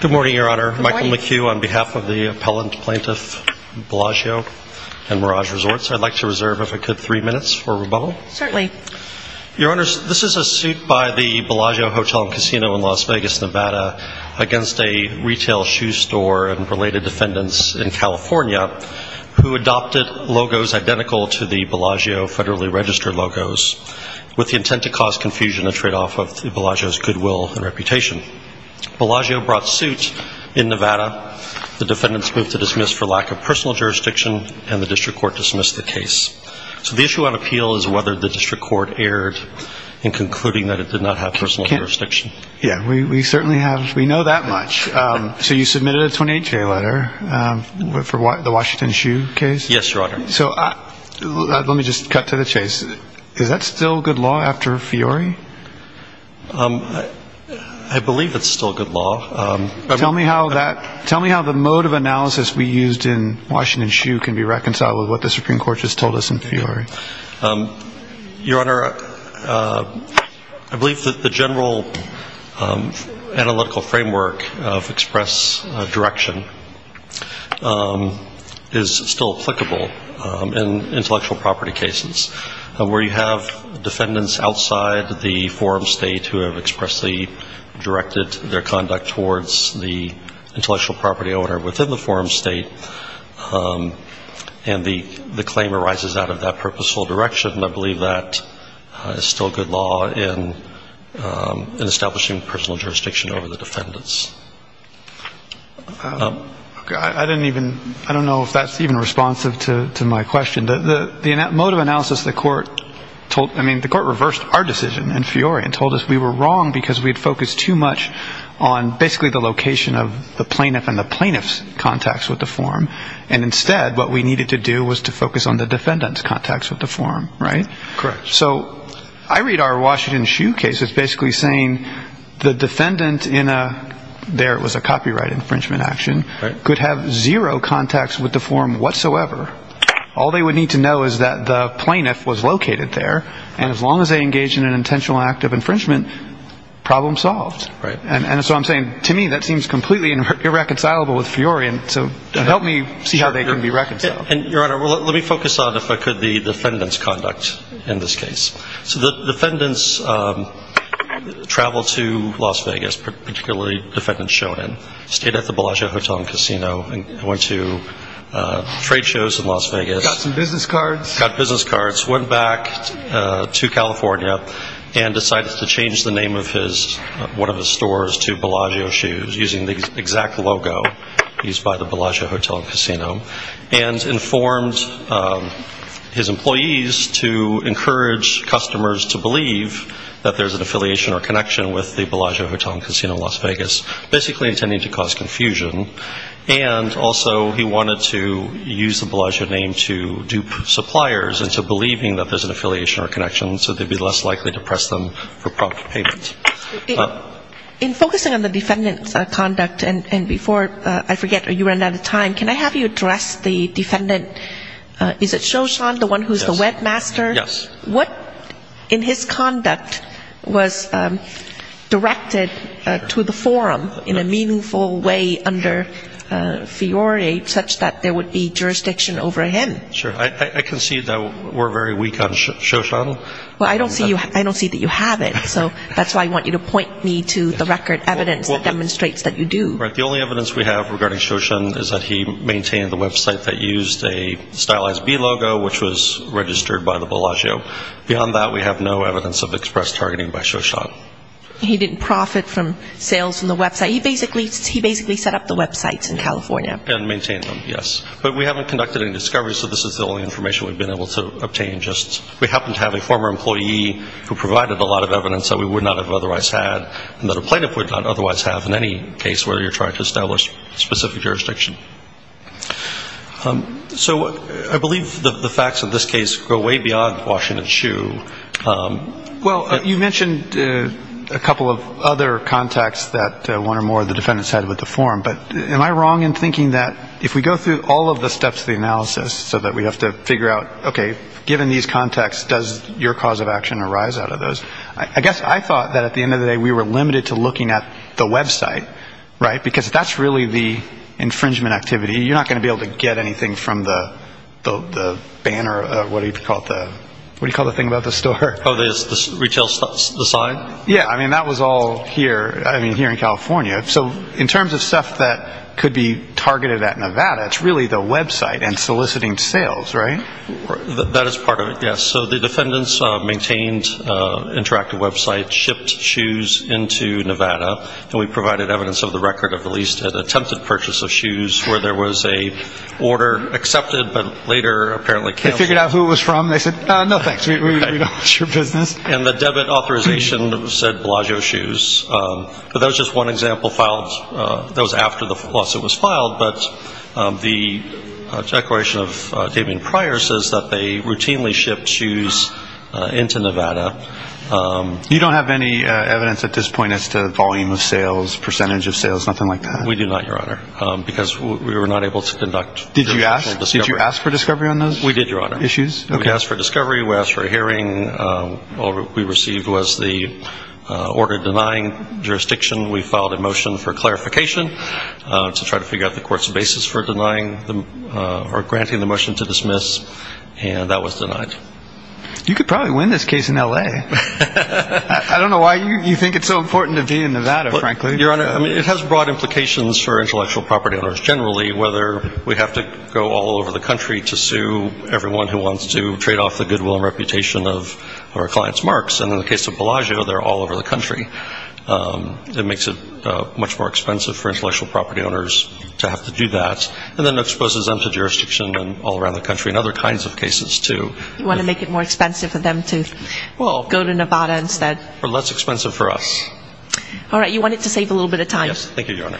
Good morning, Your Honor. Michael McHugh on behalf of the appellant, plaintiff, Bellagio and Merage Resorts. I'd like to reserve, if I could, three minutes for rebuttal. Certainly. Your Honors, this is a suit by the Bellagio Hotel and Casino in Las Vegas, Nevada against a retail shoe store and related defendants in California who adopted logos identical to the Bellagio federally registered logos with the intent to cause confusion and tradeoff of Bellagio's goodwill and reputation. Bellagio brought suit in Nevada. The defendants moved to dismiss for lack of personal jurisdiction and the district court dismissed the case. So the issue on appeal is whether the district court erred in concluding that it did not have personal jurisdiction. Yeah, we certainly have. We know that much. So you submitted a 28-J letter for the Washington shoe case? Yes, Your Honor. So let me just cut to the chase. Is that still good law after Fiori? I believe it's still good law. Tell me how that, tell me how the mode of analysis we used in Washington shoe can be reconciled with what the Supreme Court just told us in Fiori. Your Honor, I believe that the general analytical framework of express direction is still applicable in intellectual property cases. Where you have defendants outside the forum state who have expressly directed their conduct towards the intellectual property owner within the forum state and the claim arises out of that purposeful direction, I believe that is still good law in establishing personal jurisdiction over the defendants. I don't even, I don't know if that's even responsive to my question. The mode of analysis the court told, I mean the court reversed our decision in Fiori and told us we were wrong because we had focused too much on basically the location of the plaintiff and the plaintiff's contacts with the forum and instead what we needed to do was to focus on the defendant's contacts with the forum, right? Correct. So I read our Washington shoe case as basically saying the defendant in a, there it was a copyright infringement action, could have zero contacts with the forum whatsoever. All they would need to know is that the plaintiff was located there and as long as they engaged in an intentional act of infringement, problem solved. And so I'm saying to me that seems completely irreconcilable with Fiori and so help me see how they can be reconciled. Your Honor, let me focus on if I could the defendant's conduct in this case. So the defendants traveled to Las Vegas, particularly defendant Shonan, stayed at the Bellagio Hotel and Casino and went to trade shows in Las Vegas. Got some business cards. Got business cards, went back to California and decided to change the name of his, one of his stores to Bellagio Shoes using the exact logo used by the Bellagio Hotel and Casino and informed his employees to encourage customers to believe that there's an affiliation or connection with the Bellagio Hotel and Casino in Las Vegas, basically intending to cause confusion. And also he wanted to use the Bellagio name to dupe suppliers into believing that there's an affiliation or connection so they'd be less likely to press them for prompt payment. In focusing on the defendant's conduct and before I forget or you run out of time, can I have you address the defendant, is it Shoshon, the one who's the webmaster? Yes. What in his conduct was directed to the forum in a meaningful way under Fiori such that there would be jurisdiction over him? Sure. I concede that we're very weak on Shoshon. Well, I don't see that you have it, so that's why I want you to point me to the record evidence that demonstrates that you do. Right. The only evidence we have regarding Shoshon is that he maintained the website that used a stylized B logo, which was registered by the Bellagio. Beyond that, we have no evidence of express targeting by Shoshon. He didn't profit from sales from the website. He basically set up the websites in California. And maintained them, yes. But we haven't conducted any discovery, so this is the only information we've been able to obtain. We happen to have a former employee who provided a lot of evidence that we would not have otherwise had and that a plaintiff would not otherwise have in any case where you're trying to establish specific jurisdiction. So I believe the facts of this case go way beyond Washington Shoe. Well, you mentioned a couple of other contacts that one or more of the defendants had with the forum, but am I wrong in thinking that if we go through all of the steps of the analysis so that we have to figure out, okay, given these contacts, does your cause of action arise out of those? I guess I thought that at the end of the day we were limited to looking at the website, right, because that's really the infringement activity. You're not going to be able to get anything from the banner, what do you call it, what do you call the thing about the store? Oh, the retail sign? Yeah. I mean, that was all here, I mean, here in California. So in terms of stuff that could be targeted at Nevada, it's really the website and soliciting sales, right? That is part of it, yes. So the defendants maintained interactive websites, shipped shoes into Nevada, and we provided evidence of the record of at least an attempted purchase of shoes where there was an order accepted, but later apparently canceled. They figured out who it was from, they said, no thanks, we don't want your business. And the debit authorization said Bellagio Shoes. But that was just one example filed, that was after the lawsuit was filed, but the declaration of a statement prior says that they routinely shipped shoes into Nevada. You don't have any evidence at this point as to the volume of sales, percentage of sales, nothing like that? We do not, Your Honor, because we were not able to conduct the actual discovery. Did you ask for discovery on those? We did, Your Honor. Issues? Okay. We asked for discovery, we asked for a hearing, all we received was the order denying jurisdiction, we filed a motion for clarification to try to figure out the court's basis for denying or granting the motion to dismiss, and that was denied. You could probably win this case in L.A. I don't know why you think it's so important to be in Nevada, frankly. Your Honor, it has broad implications for intellectual property owners generally, whether we have to go all over the country to sue everyone who wants to trade off the goodwill and reputation of our client's marks, and in the case of Bellagio, they're all over the country. It makes it much more expensive for intellectual property owners to have to do that, and then exposes them to jurisdiction all around the country in other kinds of cases, too. You want to make it more expensive for them to go to Nevada instead? Or less expensive for us. All right, you want it to save a little bit of time. Yes, thank you, Your Honor.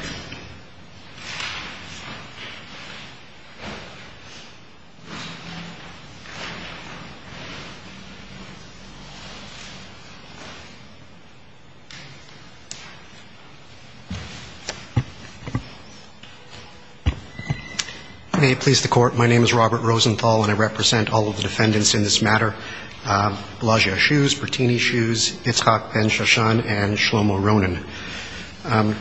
May it please the court, my name is Robert Rosenthal, and I represent all of the defendants in this matter. Bellagio Shoes, Bertini Shoes, Itzhak Ben-Shoshon, and Shlomo Ronan. I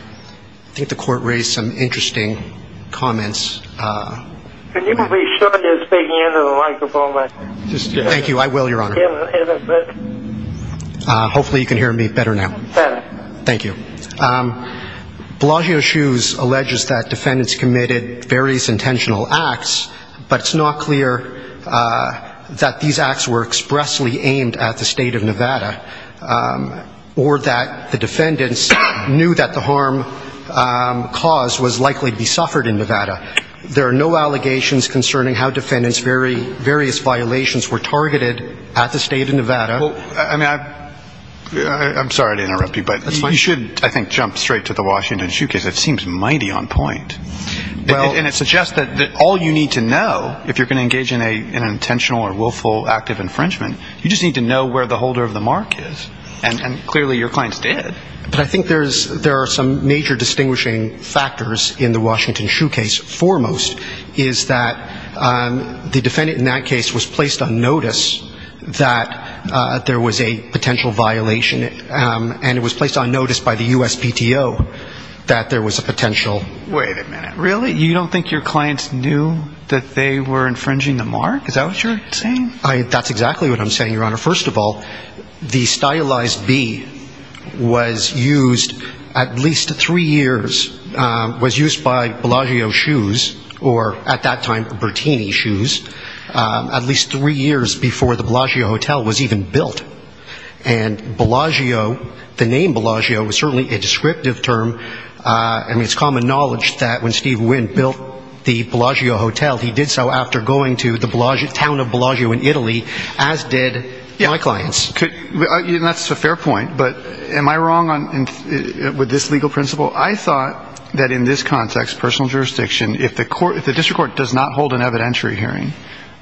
think the court raised some interesting comments. Can you be sure you're speaking into the microphone? Thank you, I will, Your Honor. Hopefully you can hear me better now. Thank you. Bellagio Shoes alleges that defendants committed various intentional acts, but it's not clear that these acts were expressly aimed at the state of Nevada, or that the defendants knew that the harm caused was likely to be suffered in Nevada. There are no allegations concerning how defendants' various violations were targeted at the state of Nevada. I'm sorry to interrupt you, but you should, I think, jump straight to the Washington Shoe Case. It seems mighty on point. And it suggests that all you need to know, if you're going to engage in an intentional or willful act of infringement, you just need to know where the holder of the mark is. And clearly your clients did. But I think there are some major distinguishing factors in the Washington Shoe Case foremost is that the defendant in that case was placed on notice that there was a potential violation and it was placed on notice by the USPTO that there was a potential... Wait a minute, really? You don't think your clients knew that they were infringing the mark? Is that what you're saying? That's exactly what I'm saying, Your Honor. First of all, the stylized bee was used at least three years, was used by Bellagio Shoes or, at that time, Bertini Shoes, at least three years before the Bellagio Hotel was even built. And Bellagio, the name Bellagio was certainly a descriptive term. I mean, it's common knowledge that when Steve Wynn built the Bellagio Hotel, he did so after going to the town of Bellagio in Italy, as did my clients. That's a fair point, but am I wrong with this legal principle? I thought that in this context, personal jurisdiction, if the district court does not hold an evidentiary hearing,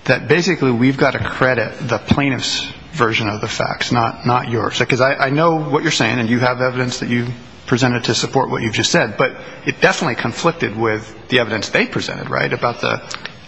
that basically we've got to credit the plaintiff's version of the facts, not yours. Because I know what you're saying, and you have evidence that you've presented to support what you've just said, but it definitely conflicted with the evidence they presented, right?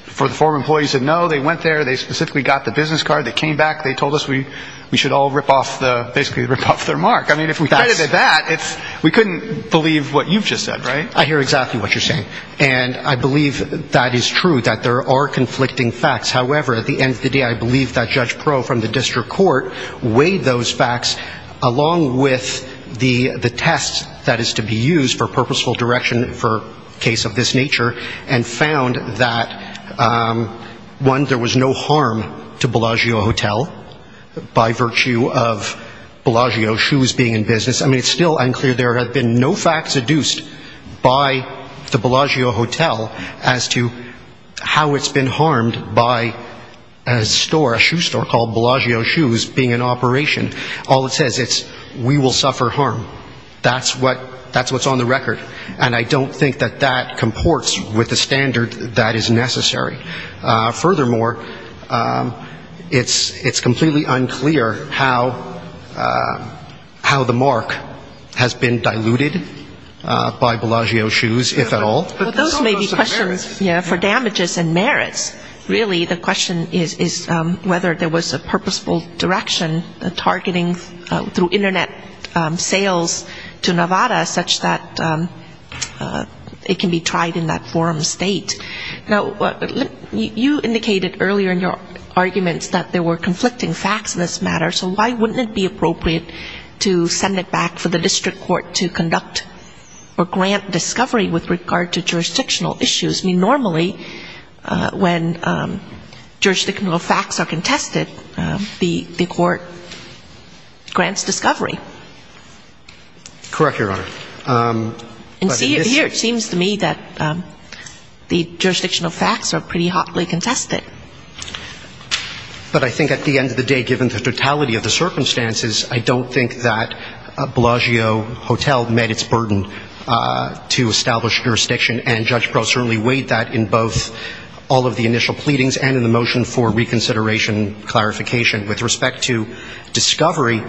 For the former employees that know, they went there, they specifically got the business card, they came back, they told us we should all basically rip off their mark. I mean, if we credited that, we couldn't believe what you've just said, right? I hear exactly what you're saying, and I believe that is true, that there are conflicting facts. However, at the end of the day, I believe that Judge Pro from the district court weighed those facts, along with the test that is to be used for purposeful direction for a case of this nature, and found that, one, there was no harm to Bellagio Hotel, by virtue of Bellagio Shoes being in business. I mean, it's still unclear. There have been no facts adduced by the Bellagio Hotel as to how it's been harmed by a store, a shoe store called Bellagio Shoes being in operation. All it says, it's, we will suffer harm. That's what's on the record. And I don't think that that comports with the standard that is necessary. Furthermore, it's completely unclear how the mark has been diluted by Bellagio Shoes, if at all. Well, those may be questions for damages and merits. Really, the question is whether there was a purposeful direction targeting through Internet sales to Nevada such that it can be tried in that forum state. Now, you indicated earlier in your arguments that there were conflicting facts in this matter. So why wouldn't it be appropriate to send it back for the district court to conduct or grant discovery with regard to jurisdictional issues? I mean, normally, when jurisdictional facts are contested, the court grants discovery. Correct, Your Honor. And here, it seems to me that the jurisdictional facts are pretty hotly contested. But I think at the end of the day, given the totality of the circumstances, I don't think that Bellagio Hotel met its burden to establish jurisdiction. And Judge Breaux certainly weighed that in both all of the initial pleadings and in the motion for reconsideration clarification. With respect to discovery,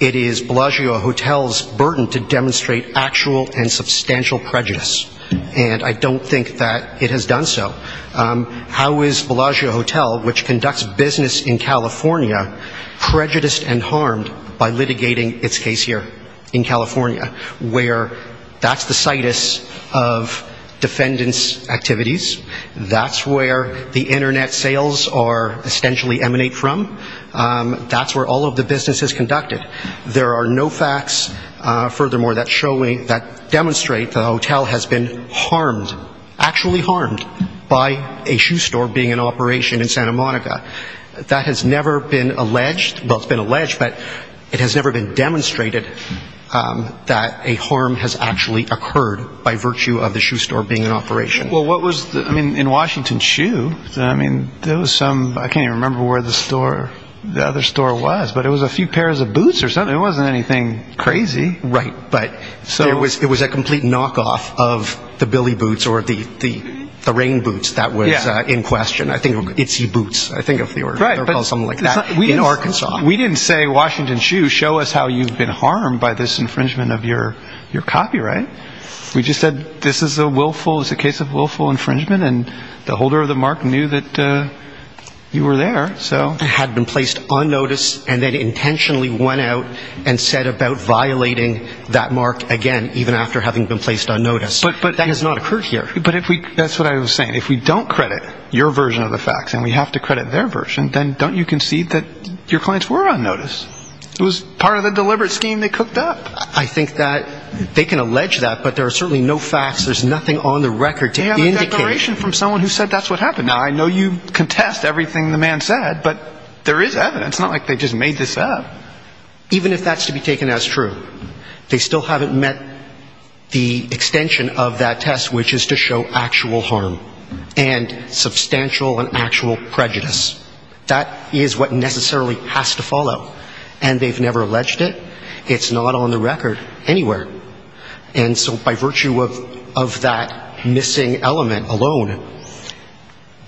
it is Bellagio Hotel's burden to demonstrate actual and substantial prejudice. And I don't think that it has done so. How is Bellagio Hotel, which conducts business in California, prejudiced and harmed by litigating its case here in California, where that's the situs of defendant's activities, that's where the internet sales essentially emanate from, that's where all of the business is conducted? There are no facts, furthermore, that demonstrate the hotel has been harmed, actually harmed, by a shoe store being in operation in Santa Monica. That has never been alleged. Well, it's been alleged, but it has never been demonstrated that a harm has actually occurred by virtue of the shoe store being in operation. Well, what was, I mean, in Washington Shoe, I mean, there was some, I can't even remember where the store, the other store was, but it was a few pairs of boots or something. It wasn't anything crazy. Right, but it was a complete knockoff of the Billy Boots or the Rain Boots that was in question. I think it was Itsy Boots, I think of the order, they were called something like that, in Arkansas. We didn't say, Washington Shoe, show us how you've been harmed by this infringement of your copyright. We just said, this is a willful, it's a case of willful infringement, and the holder of the mark knew that you were there, so. It had been placed on notice, and then intentionally went out and said about violating that mark again, even after having been placed on notice. But, but. That has not occurred here. But if we, that's what I was saying, if we don't credit your version of the facts, and we have to credit their version, then don't you concede that your clients were on notice? It was part of the deliberate scheme they cooked up. I think that they can allege that, but there are certainly no facts, there's nothing on the record to indicate. They have a declaration from someone who said that's what happened. Now, I know you contest everything the man said, but there is evidence. It's not like they just made this up. Even if that's to be taken as true, they still haven't met the extension of that test, which is to show actual harm, and substantial and actual prejudice. That is what necessarily has to follow, and they've never alleged it. It's not on the record anywhere. And so by virtue of, of that missing element alone,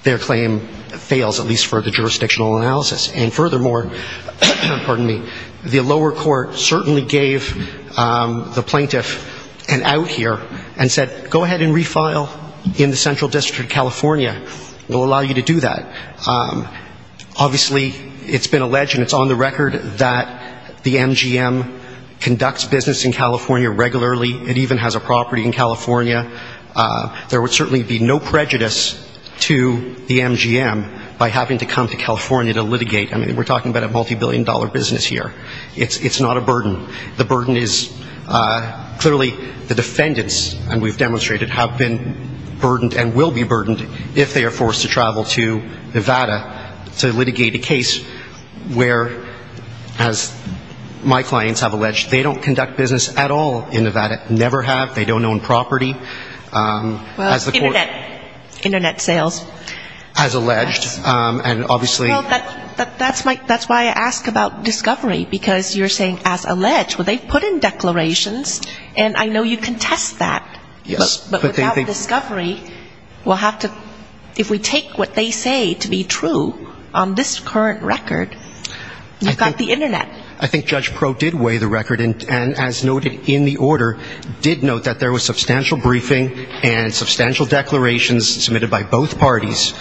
their claim fails, at least for the jurisdictional analysis. And furthermore, pardon me, the lower court certainly gave the plaintiff an out here and said go ahead and refile in the Central District of California. We'll allow you to do that. Obviously, it's been alleged and it's on the record that the MGM conducts business in California regularly. It even has a property in California. There would certainly be no prejudice to the MGM by having to come to California to litigate. I mean, we're talking about a multi-billion dollar business here. It's, it's not a burden. The burden is clearly the defendants, and we've demonstrated, have been burdened and will be burdened if they are forced to travel to Nevada to litigate a case where, as my clients have alleged, they don't conduct business at all in Nevada. Never have. They don't own property. As the court ---- Internet, Internet sales. As alleged, and obviously ---- Well, that, that's my, that's why I ask about discovery. Because you're saying as alleged. Well, they've put in declarations, and I know you contest that. Yes. But without discovery, we'll have to, if we take what they say to be true on this current record, I've got the Internet. I think Judge Proh did weigh the record, and as noted in the order, did note that there was substantial briefing and substantial declarations submitted by both parties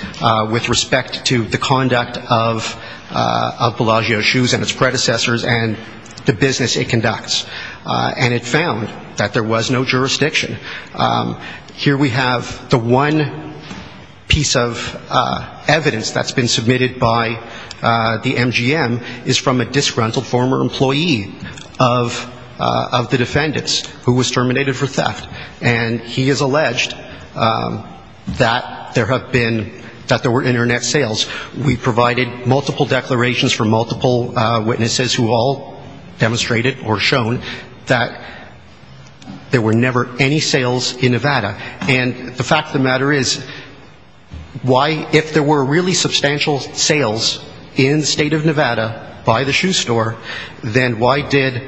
with respect to the conduct of, of Bellagio Shoes and its predecessors and the business it conducts. And it found that there was no jurisdiction. Here we have the one piece of evidence that's been submitted by the MGM is from a disgruntled former employee of, of the defendants who was terminated for theft. And he has alleged that there have been, that there were Internet sales. We provided multiple declarations from multiple witnesses who all demonstrated or shown that there were never any sales in Nevada. And the fact of the matter is, why, if there were really substantial sales in the state of Nevada by the shoe store, then why did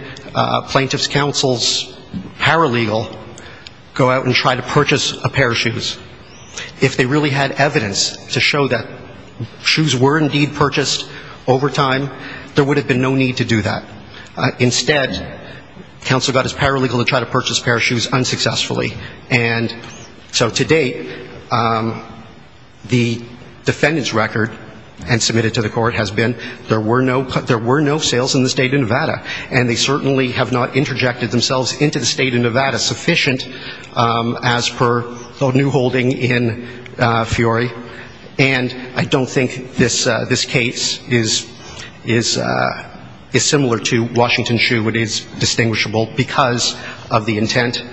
plaintiff's counsel's paralegal go out and try to purchase a pair of shoes? If they really had evidence to show that shoes were indeed purchased over time, there would have been no need to do that. Instead, counsel got his paralegal to try to purchase a pair of shoes unsuccessfully. And so to date, the defendant's record and submitted to the court has been there were no, there were no sales in the state of Nevada. And they certainly have not interjected themselves into the state of Nevada as sufficient as per the new holding in Fiore. And I don't think this case is similar to Washington Shoe. It is distinguishable because of the intent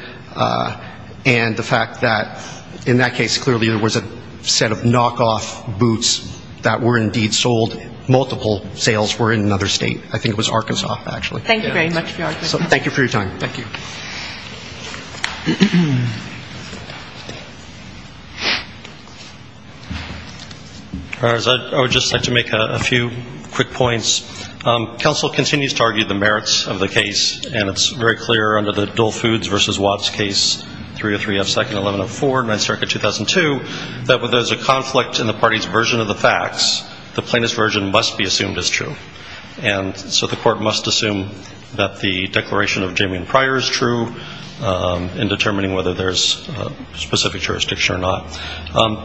and the fact that in that case, clearly there was a set of knockoff boots that were indeed sold. Multiple sales were in another state. I think it was Arkansas, actually. Thank you very much, Fiore. Thank you for your time. Thank you. I would just like to make a few quick points. Counsel continues to argue the merits of the case, and it's very clear under the Dole Foods v. Watts case 303F2-1104, 9th Circuit, 2002, that where there's a conflict in the party's version of the facts, the plaintiff's version must be assumed as true. And so the court must assume that the declaration of Jamie and Pryor is true in determining whether there's specific jurisdiction or not.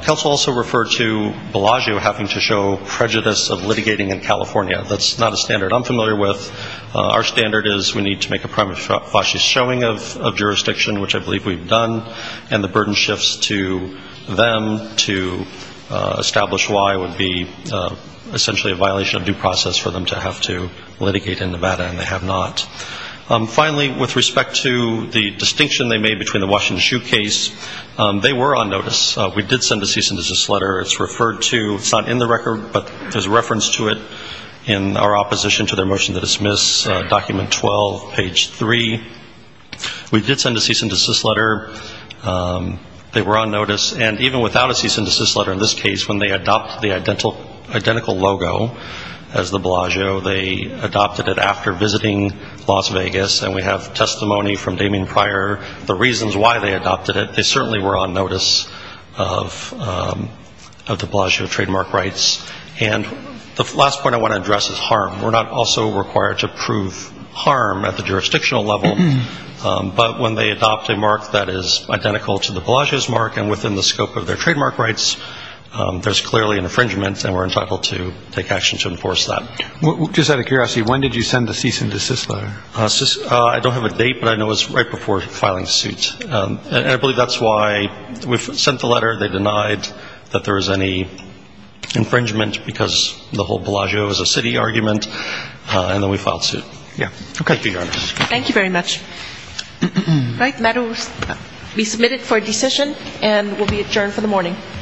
Counsel also referred to Bellagio having to show prejudice of litigating in California. That's not a standard I'm familiar with. Our standard is we need to make a primary fascist showing of jurisdiction, which I believe we've done, and the burden shifts to them to establish why it would be essentially a violation of due process for them to have to litigate in Nevada, and they have not. Finally, with respect to the distinction they made between the Washington Shoe case, they were on notice. We did send a cease and desist letter. It's referred to. It's not in the record, but there's a reference to it in our opposition to their motion to dismiss, document 12, page 3. We did send a cease and desist letter. They were on notice. And even without a cease and desist letter in this case, when they adopt the identical logo as the Bellagio, they adopted it after visiting Las Vegas, and we have testimony from Jamie and Pryor, the reasons why they adopted it. They certainly were on notice of the Bellagio trademark rights. And the last point I want to address is harm. We're not also required to prove harm at the jurisdictional level, but when they adopt a mark that is identical to the Bellagio's mark and within the scope of their trademark rights, there's clearly an infringement, and we're entitled to take action to enforce that. Just out of curiosity, when did you send the cease and desist letter? I don't have a date, but I know it was right before filing suit. I believe that's why we sent the letter. They denied that there was any infringement because the whole Bellagio is a city argument, and then we filed suit. Thank you, Your Honor. Thank you very much. The matter will be submitted for decision and will be adjourned for the morning.